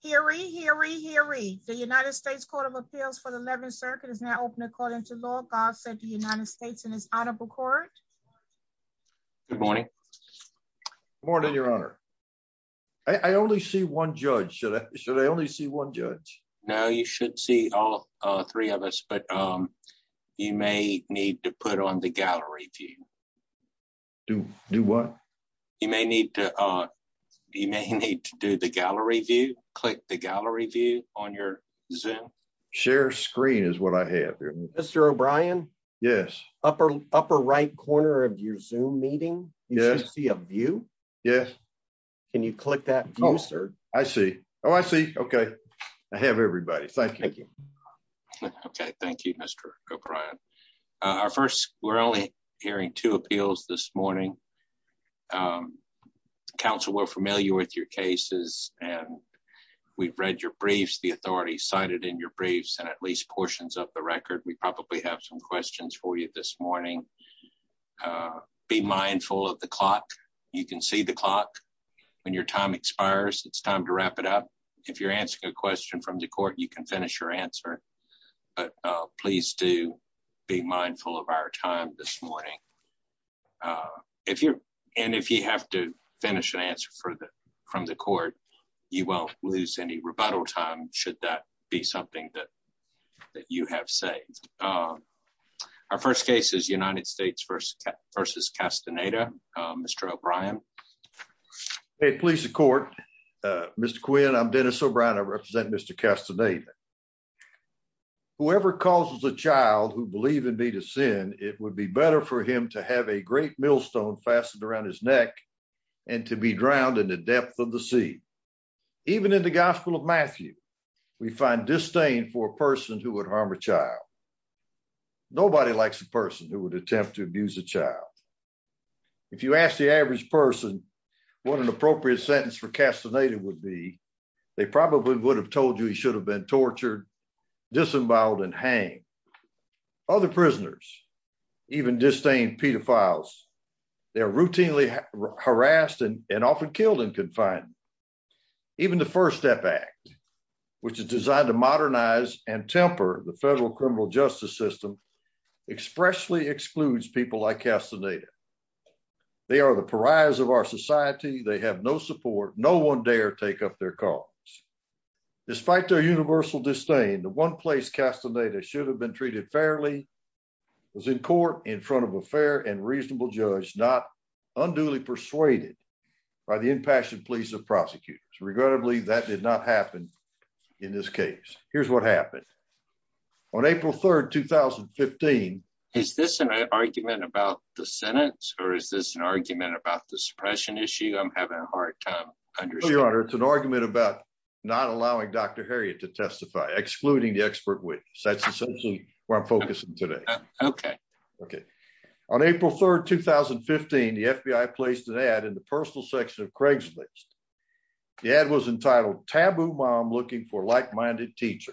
Hear ye, hear ye, hear ye. The United States Court of Appeals for the 11th Circuit is now open according to law. God said the United States in his honorable court. Good morning. Good morning, Your Honor. I only see one judge. Should I only see one judge? No, you should see all three of us, but you may need to put on the gallery view. Do what? You may need to do the gallery view. Click the gallery view on your Zoom. Share screen is what I have here. Mr. O'Brien? Yes. Upper right corner of your Zoom meeting, you should see a view. Yes. Can you click that view, sir? I see. Oh, I see. Okay. I have everybody. Thank you. Okay. Thank you, Mr. O'Brien. We're only hearing two appeals this morning. Counsel, we're familiar with your cases and we've read your briefs, the authority cited in your briefs and at least portions of the record. We probably have some questions for you this morning. Be mindful of the clock. You can see the clock. When your time expires, it's time to wrap it up. If you're answering a question from the court, you can finish your answer, but please do be mindful of our time this morning. And if you have to finish an answer from the court, you won't lose any rebuttal time should that be something that you have saved. Our first case is United States v. Castaneda. Mr. O'Brien? Hey, police and court. Mr. Quinn, I'm Dennis O'Brien. I represent Mr. Castaneda. Whoever causes a child who believe in me to sin, it would be better for him to have a great millstone fastened around his neck and to be drowned in the depth of the sea. Even in the Gospel of Matthew, we find disdain for a person who would harm a child. Nobody likes a person who attempts to abuse a child. If you ask the average person what an appropriate sentence for Castaneda would be, they probably would have told you he should have been tortured, disemboweled, and hanged. Other prisoners, even disdained pedophiles, they're routinely harassed and often killed in confinement. Even the First Step Act, which is designed to modernize and temper the federal criminal justice system, expressly excludes people like Castaneda. They are the pariahs of our society. They have no support. No one dare take up their cause. Despite their universal disdain, the one place Castaneda should have been treated fairly was in court in front of a fair and reasonable judge, not unduly persuaded by the impassioned pleas of prosecutors. Regrettably, that did not happen in this case. Here's what happened. On April 3rd, 2015... Is this an argument about the sentence or is this an argument about the suppression issue? I'm having a hard time understanding. It's an argument about not allowing Dr. Herriot to testify, excluding the expert witness. That's essentially where I'm focusing today. Okay. Okay. On April 3rd, 2015, the FBI placed an ad in the personal section of Craigslist. The ad was entitled, Taboo Mom Looking for Like-Minded Teacher.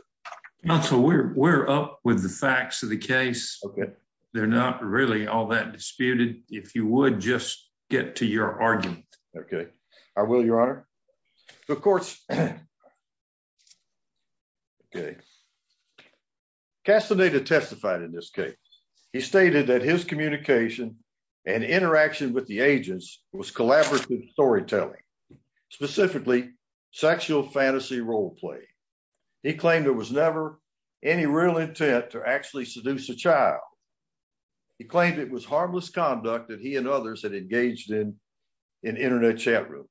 Counsel, we're up with the facts of the case. Okay. They're not really all that disputed. If you would, just get to your argument. Okay. I will, Your Honor. The courts... Okay. Castaneda testified in this case. He stated that his communication and interaction with the agents was collaborative storytelling, specifically sexual fantasy role play. He claimed there was never any real intent to actually seduce a child. He claimed it was harmless conduct that he and others had engaged in in internet chat rooms.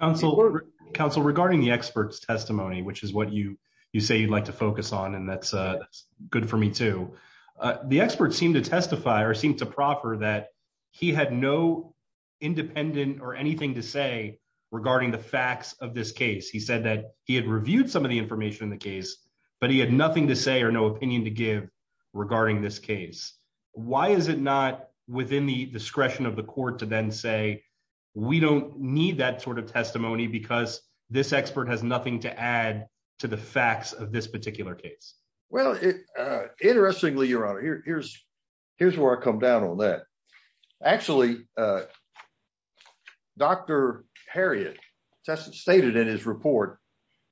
Counsel, regarding the expert's testimony, which is what you say you'd like to focus on, and that's good for me too. The expert seemed to testify or seemed to proffer that he had no independent or anything to say regarding the facts of this case. He said that he had reviewed some of the information in the case, but he had nothing to say or no opinion to give regarding this case. Why is it not within the discretion of the court to then say, we don't need that sort of testimony because this expert has nothing to add to the facts of this particular case? Well, interestingly, Your Honor, here's where I come down on that. Actually, Dr. Harriot stated in his report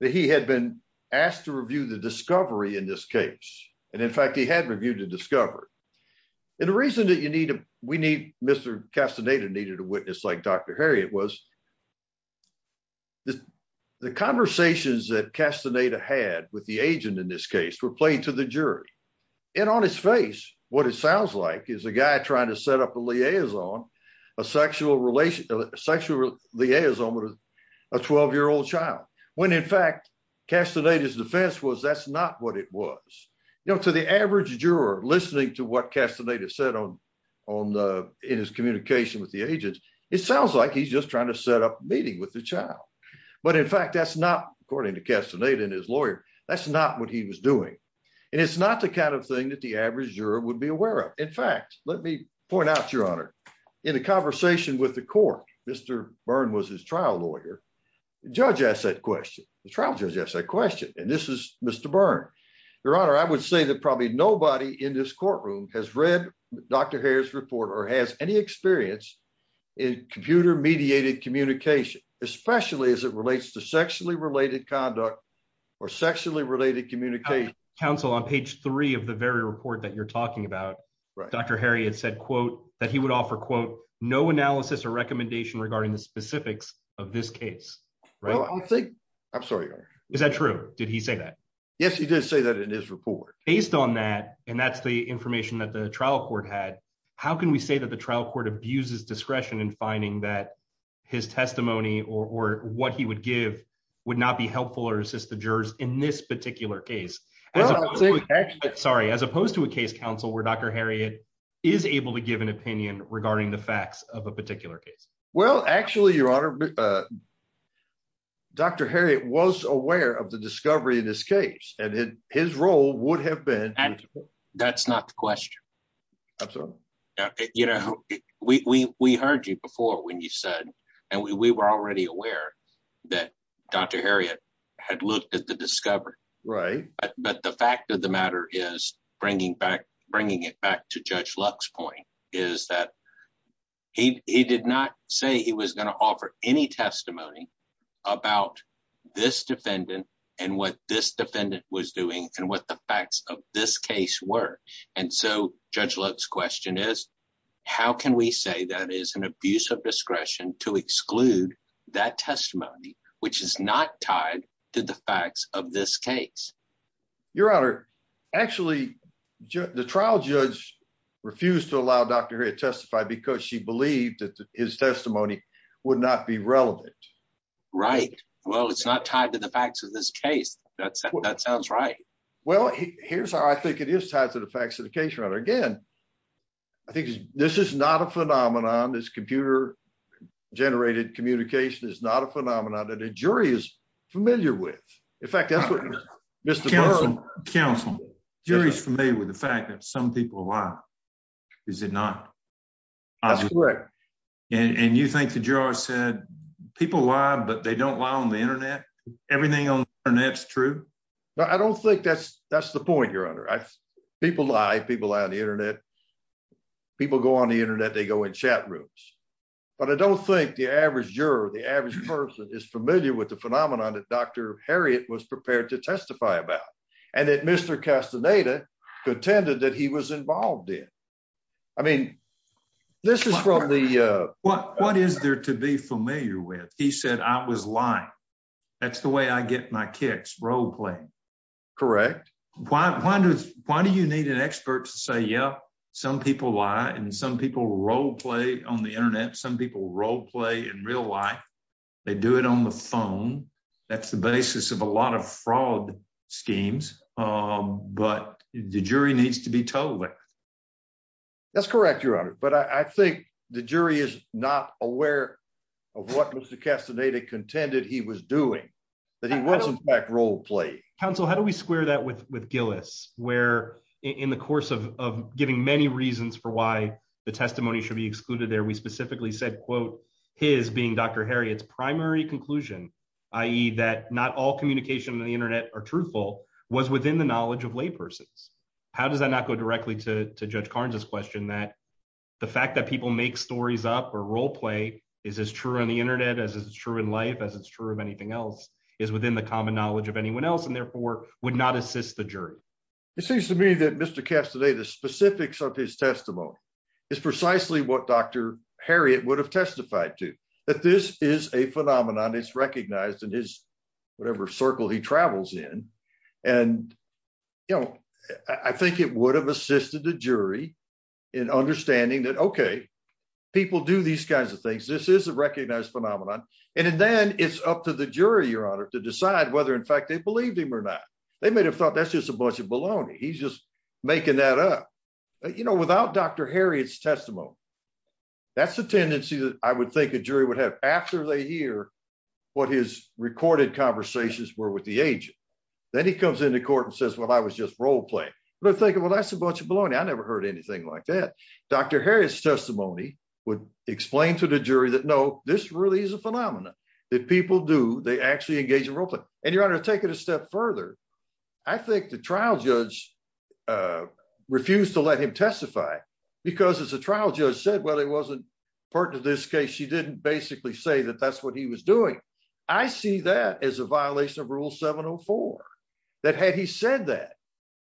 that he had been asked to review the discovery in this case. And in fact, he had reviewed the discovery. And the reason that we need Mr. Castaneda needed a witness like Dr. Harriot was the conversations that Castaneda had with the agent in this case were played to the jury. And on his face, what it sounds like is a guy trying to set up a liaison, a sexual liaison with a 12-year-old child, when in fact, Castaneda's defense was that's not what it was. To the average juror listening to what Castaneda said in his communication with the agent, it sounds like he's just trying to set up a meeting with the child. But in fact, that's not, according to Castaneda and his lawyer, that's not what he was doing. And it's not the kind of thing that the average juror would be aware of. In fact, let me point out, Your Honor, in a conversation with the court, Mr. Byrne was his trial lawyer. The judge asked that question. The trial judge asked that question. And this is Mr. Byrne. Your Honor, I would say that probably nobody in this courtroom has read Dr. Harry's report or has any experience in computer-mediated communication, especially as it relates to sexually-related conduct or sexually-related communication. Counsel, on page three of the very report that you're talking about, Dr. Harry had said, quote, that he would offer, quote, no analysis or recommendation regarding the specifics of this case. I'm sorry, Your Honor. Is that true? Did he say that? Yes, he did say that in his report. Based on that, and that's the information that the trial court had, how can we say that the trial court abuses discretion in finding that his testimony or what he would give would not be helpful or assist the jurors in this particular case? Sorry, as opposed to a case counsel where Dr. Harriet is able to give an opinion regarding the facts of a particular case? Well, actually, Your Honor, Dr. Harriet was aware of the discovery in this case, and his role would have been... That's not the question. Absolutely. You know, we heard you before when you said, and we were already aware that Dr. Harriet had looked at the discovery. Right. But the fact of the matter is, bringing it back to Judge Luck's point, is that he did not say he was going to offer any testimony about this defendant and what this defendant was doing and what the facts of this case were. And so, Judge Luck's question is, how can we say that is an abuse of discretion to exclude that testimony, which is not tied to the facts of this case? Your Honor, actually, the trial judge refused to allow Dr. Harriet to testify because she believed that his testimony would not be relevant. Right. Well, it's not tied to the facts of this case. That sounds right. Well, here's how I think it is tied to the facts of the case, Your Honor. Again, I think this is not a phenomenon. This computer-generated communication is not a phenomenon that a jury is familiar with. In fact, that's what Mr. Burr... Counsel, jury's familiar with the fact that some people lie, is it not? That's correct. And you think the juror said, people lie, but they don't lie on the internet? Everything on the internet's true? No, I don't think that's the point, Your Honor. People lie. People lie on the internet. People go on the internet, they go in chat rooms. But I don't think the average juror, the average person, is familiar with the phenomenon that Dr. Harriet was prepared to involve in. I mean, this is probably... What is there to be familiar with? He said, I was lying. That's the way I get my kicks, role-playing. Correct. Why do you need an expert to say, yeah, some people lie and some people role-play on the internet, some people role-play in real life. They do it on the phone. That's the basis of a lot of fraud schemes. But the jury needs to be told. That's correct, Your Honor. But I think the jury is not aware of what Mr. Castaneda contended he was doing, that he wasn't back role-play. Counsel, how do we square that with Gillis, where in the course of giving many reasons for why the testimony should be excluded there, we specifically said, quote, his being Dr. Harriet's primary conclusion, i.e. that not all communications on the internet are truthful, was within the knowledge of laypersons. How does that not go directly to Judge Carnes' question that the fact that people make stories up or role-play is as true on the internet as it's true in life, as it's true of anything else, is within the common knowledge of anyone else and therefore would not assist the jury? It seems to me that Mr. Castaneda, the specifics of his testimony is precisely what Dr. Harriet would have testified to, that this is a phenomenon. It's recognized in his whatever circle he travels in. And, you know, I think it would have assisted the jury in understanding that, okay, people do these kinds of things. This is a recognized phenomenon. And then it's up to the jury, Your Honor, to decide whether in fact they believed him or not. They may have thought that's just a bunch of baloney. He's just making that up. You know, without Dr. Harriet's testimony, that's the tendency that I would think a jury would have after they hear what his recorded conversations were with the agent. Then he comes into court and says, well, I was just role-playing. They're thinking, well, that's a bunch of baloney. I never heard anything like that. Dr. Harriet's testimony would explain to the jury that, no, this really is a phenomenon that people do. They actually engage in role-play. And, Your Honor, to take it a step further, I think the trial judge refused to let him testify because, as the trial judge said, well, he wasn't pertinent to this case. He didn't basically say that that's what he was doing. I see that as a violation of Rule 704, that had he said that,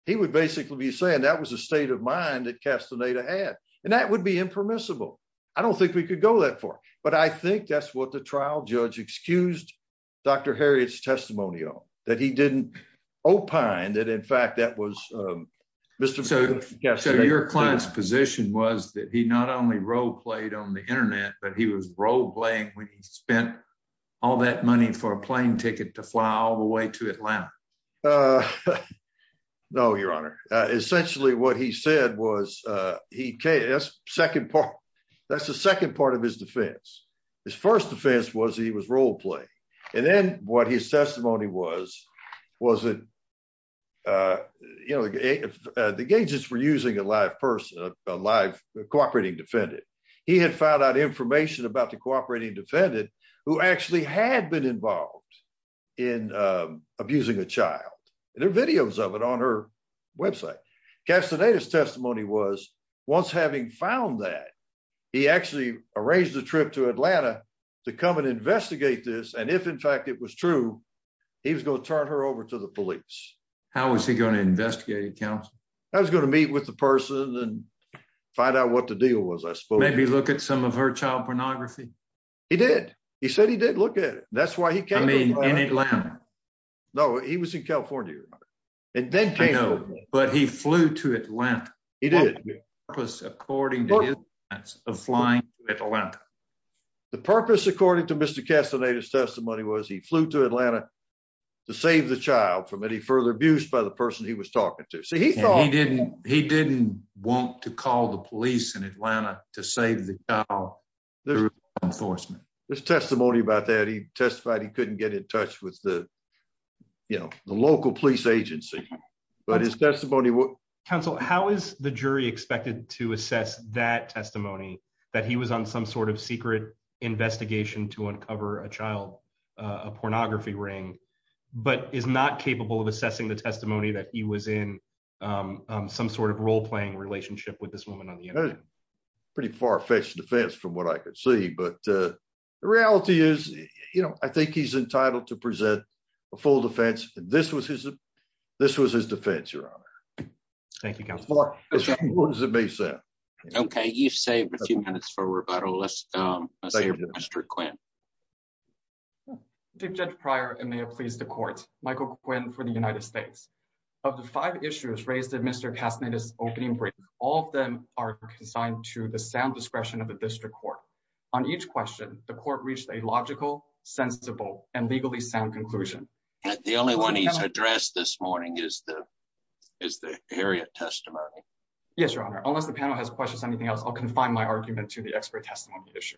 he would basically be saying that was a state of mind that Castaneda had. And that would be impermissible. I don't think we could go that far. But I think that's what the trial judge excused Dr. Harriet's testimony on, that he didn't opine that, in fact, that was Mr. So your client's position was that he not only role-played on the internet, but he was role-playing when he spent all that money for a plane ticket to fly all the way to Atlanta. No, Your Honor. Essentially, what he said was, that's the second part of his defense. His first defense was he was role-playing. And then what his testimony was, was that, you know, the agents were using a live person, a live cooperating defendant. He had found out information about the cooperating defendant, who actually had been involved in abusing a child. There are videos of it on her website. Castaneda's testimony was, once having found that, he actually arranged a trip to Atlanta to come and investigate this. And if, in fact, it was true, he was going to turn her over to the police. How was he going to investigate it, counsel? I was going to meet with the person and find out what the deal was, I suppose. Maybe look at some of her child pornography? He did. He said he did look at it. That's why he came to Atlanta. I mean, in Atlanta? No, he was in California, Your Honor. And then came to Atlanta. I know, but he flew to Atlanta. He did. According to his defense of flying to Atlanta. The purpose, according to Mr. Castaneda's testimony, was he flew to Atlanta to save the child from any further abuse by the person he was talking to. So he thought... And he didn't want to call the police in Atlanta to save the child through law enforcement. There's testimony about that. He testified he couldn't get in touch with the, you know, the local police agency. But his testimony was... Counsel, how is the jury expected to assess that testimony, that he was on some sort of secret investigation to uncover a child, a pornography ring, but is not capable of assessing the testimony that he was in some sort of role playing relationship with this woman on the internet? Pretty far-fetched defense from what I could see. But the reality is, you know, I think he's entitled to present a full defense. This was his defense, Your Honor. Thank you, Counsel. Okay, you've saved a few minutes for rebuttal. Let's hear from Mr. Quinn. Judge Pryor, and may it please the court. Michael Quinn for the United States. Of the five issues raised in Mr. Castaneda's opening brief, all of them are consigned to the sound discretion of the district court. On each question, the court reached a logical, sensible, and legally sound conclusion. The only one he's addressed this morning is the Harriet testimony. Yes, Your Honor. Unless the panel has questions or anything else, I'll confine my argument to the expert testimony issue.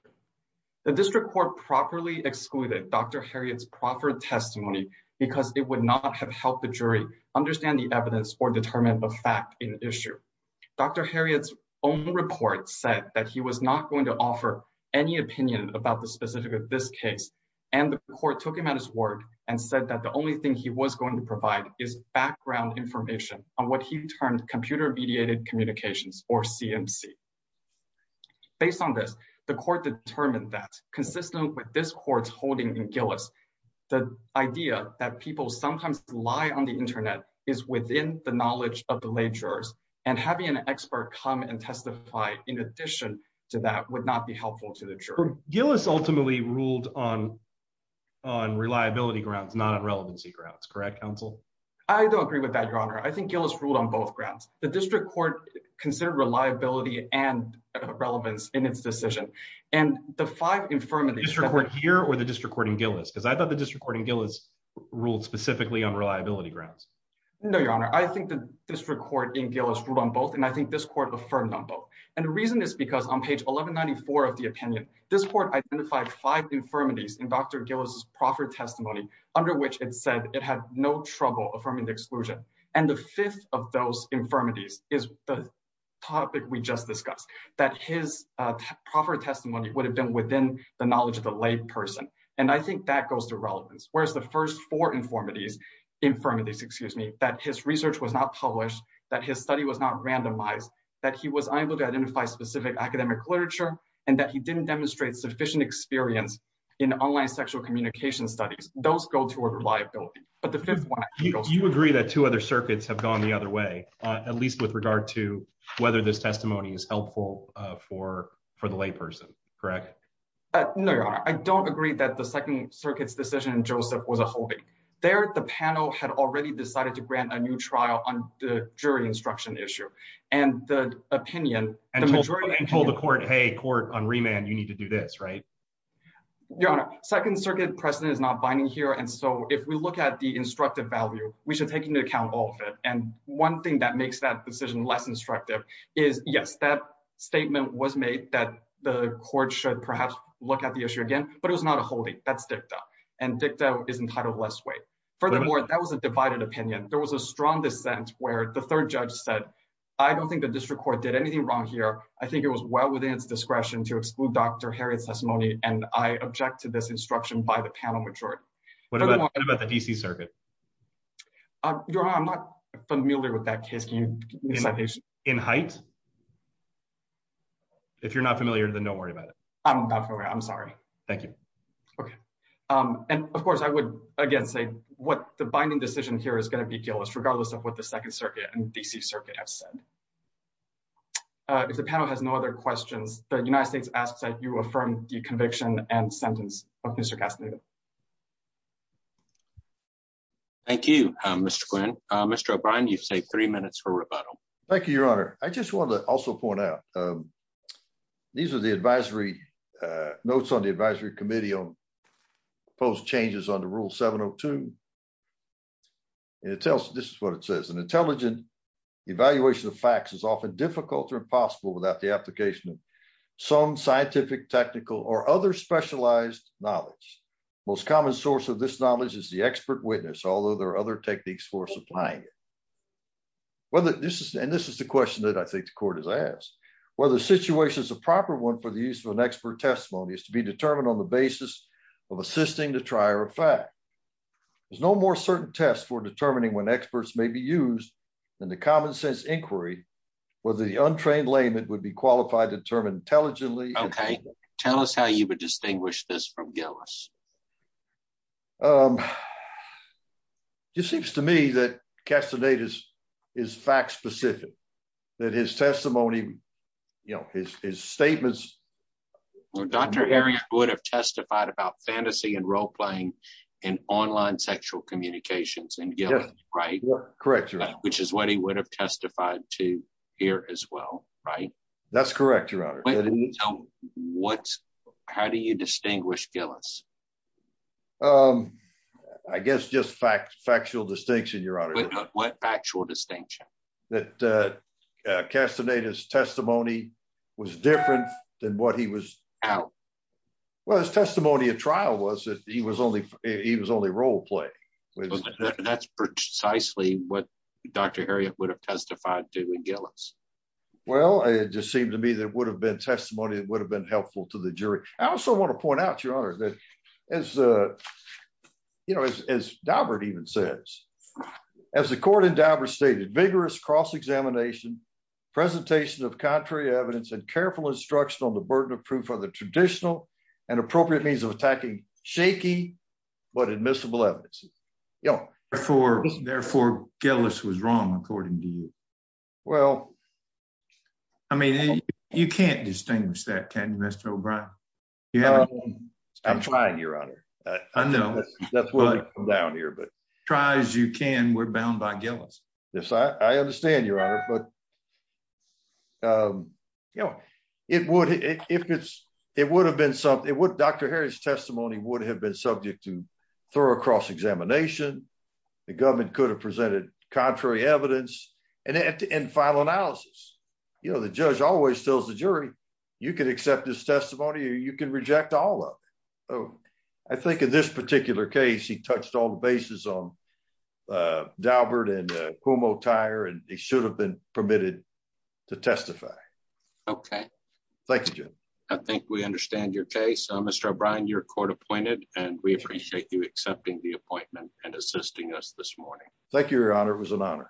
The district court properly excluded Dr. Harriet's proffered testimony because it would not have helped the jury understand the evidence or determine a fact in issue. Dr. Harriet's own report said that he was not going to offer any opinion about this case, and the court took him at his word and said that the only thing he was going to provide is background information on what he termed computer-mediated communications, or CMC. Based on this, the court determined that, consistent with this court's holding in Gillis, the idea that people sometimes lie on the internet is within the knowledge of the lay jurors, and having an expert come and testify in addition to that would not be helpful to the jury. Gillis ultimately ruled on reliability grounds, not on relevancy grounds, correct, counsel? I don't agree with that, Your Honor. I think Gillis ruled on both grounds. The district court considered reliability and relevance in its decision, and the five infirmities... The district court here or the district court in Gillis? Because I thought the district court in Gillis ruled specifically on reliability grounds. No, Your Honor. I think the district court in Gillis ruled on both, and I think this court affirmed on both. And the reason is because on page 1194 of the opinion, this court identified five infirmities in Dr. Gillis' proffer testimony under which it said it had no trouble affirming the exclusion. And the fifth of those infirmities is the topic we just discussed, that his proffer testimony would have been within the knowledge of the lay person. And I think that goes to relevance. Whereas the first four infirmities, that his research was not published, that his study was not randomized, that he was unable to identify specific academic literature, and that he didn't demonstrate sufficient experience in online sexual communication studies. Those go toward reliability. But the fifth one... You agree that two other circuits have gone the other way, at least with regard to whether this testimony is helpful for the lay person, correct? No, Your Honor. I don't agree that the Second Circuit's decision in Joseph was a hoax. There, the panel had already decided to grant a new trial on the jury instruction issue. And the opinion... And told the court, hey, court on remand, you need to do this, right? Your Honor, Second Circuit precedent is not binding here. And so if we look at the instructive value, we should take into account all of it. And one thing that makes that decision less instructive is, yes, that statement was made that the court should perhaps look at the issue again, but it was not a holding. That's dicta. And dicta is entitled less weight. Furthermore, that was a divided opinion. There was a strong dissent where the third judge said, I don't think the district court did anything wrong here. I think it was well within its discretion to exclude Dr. Harriot's testimony. And I object to this instruction by the panel majority. What about the D.C. Circuit? Your Honor, I'm not familiar with that case. Can you... In height? If you're not familiar, then don't worry about it. I'm not familiar. I'm sorry. Thank you. Okay. And of course, I would again say what the binding decision here is going to be guiltless regardless of what the Second Circuit and D.C. Circuit have said. If the panel has no other questions, the United States asks that you affirm the conviction and sentence of Mr. Castaneda. Thank you, Mr. Quinn. Mr. O'Brien, you've saved three minutes for rebuttal. Thank you, Your Honor. I just wanted to also point out, these are the advisory notes on the advisory committee on proposed changes under Rule 702. And it tells, this is what it says, an intelligent evaluation of facts is often difficult or impossible without the application of some scientific, technical, or other specialized knowledge. Most common source of this knowledge is the expert witness, although there are other techniques for supplying it. And this is the question that I think the court has asked. Whether the situation is the proper one for the use of an expert testimony is to be determined on the basis of assisting the trier of fact. There's no more certain test for determining when experts may be used than the common sense inquiry, whether the untrained layman would be qualified to determine intelligently. Okay. Tell us how you would distinguish this from guiltless. It just seems to me that Castaneda is fact specific, that his testimony, you know, his statements. Dr. Herring would have testified about fantasy and role playing in online sexual communications and guilt, right? Correct, Your Honor. Which is what he would have testified to here as well, right? That's correct, Your Honor. What, how do you distinguish guiltless? I guess just factual distinction, Your Honor. What factual distinction? That Castaneda's testimony was different than what he was. How? Well, his testimony at trial was that he was only role play. That's precisely what Dr. Herring would have testified to in guiltless. Well, it just seemed to me that it would have been testimony that would have been helpful to the jury. I also want to point out, Your Honor, that as Daubert even says, as the court in Daubert stated, vigorous cross-examination, presentation of contrary evidence, and careful instruction on the burden of proof are the traditional and appropriate means of attacking shaky but admissible evidence. Therefore, guiltless was wrong, according to you. Well, I mean, you can't distinguish that, can you, Mr. O'Brien? I'm trying, Your Honor. I know. Try as you can, we're bound by guiltless. Yes, I understand, Your Honor. It would, Dr. Herring's testimony would have been subject to thorough cross-examination. The government could have presented contrary evidence and final analysis. The judge always tells the jury, you can accept this testimony or you can reject all of it. I think in this particular case, he touched all the bases on Daubert and Cuomo-Tyre, and he should have been permitted to testify. Okay. Thank you, Jim. I think we understand your case. Mr. O'Brien, you're court-appointed, and we appreciate you accepting the appointment and assisting us this morning. Thank you, Your Honor. It was an honor.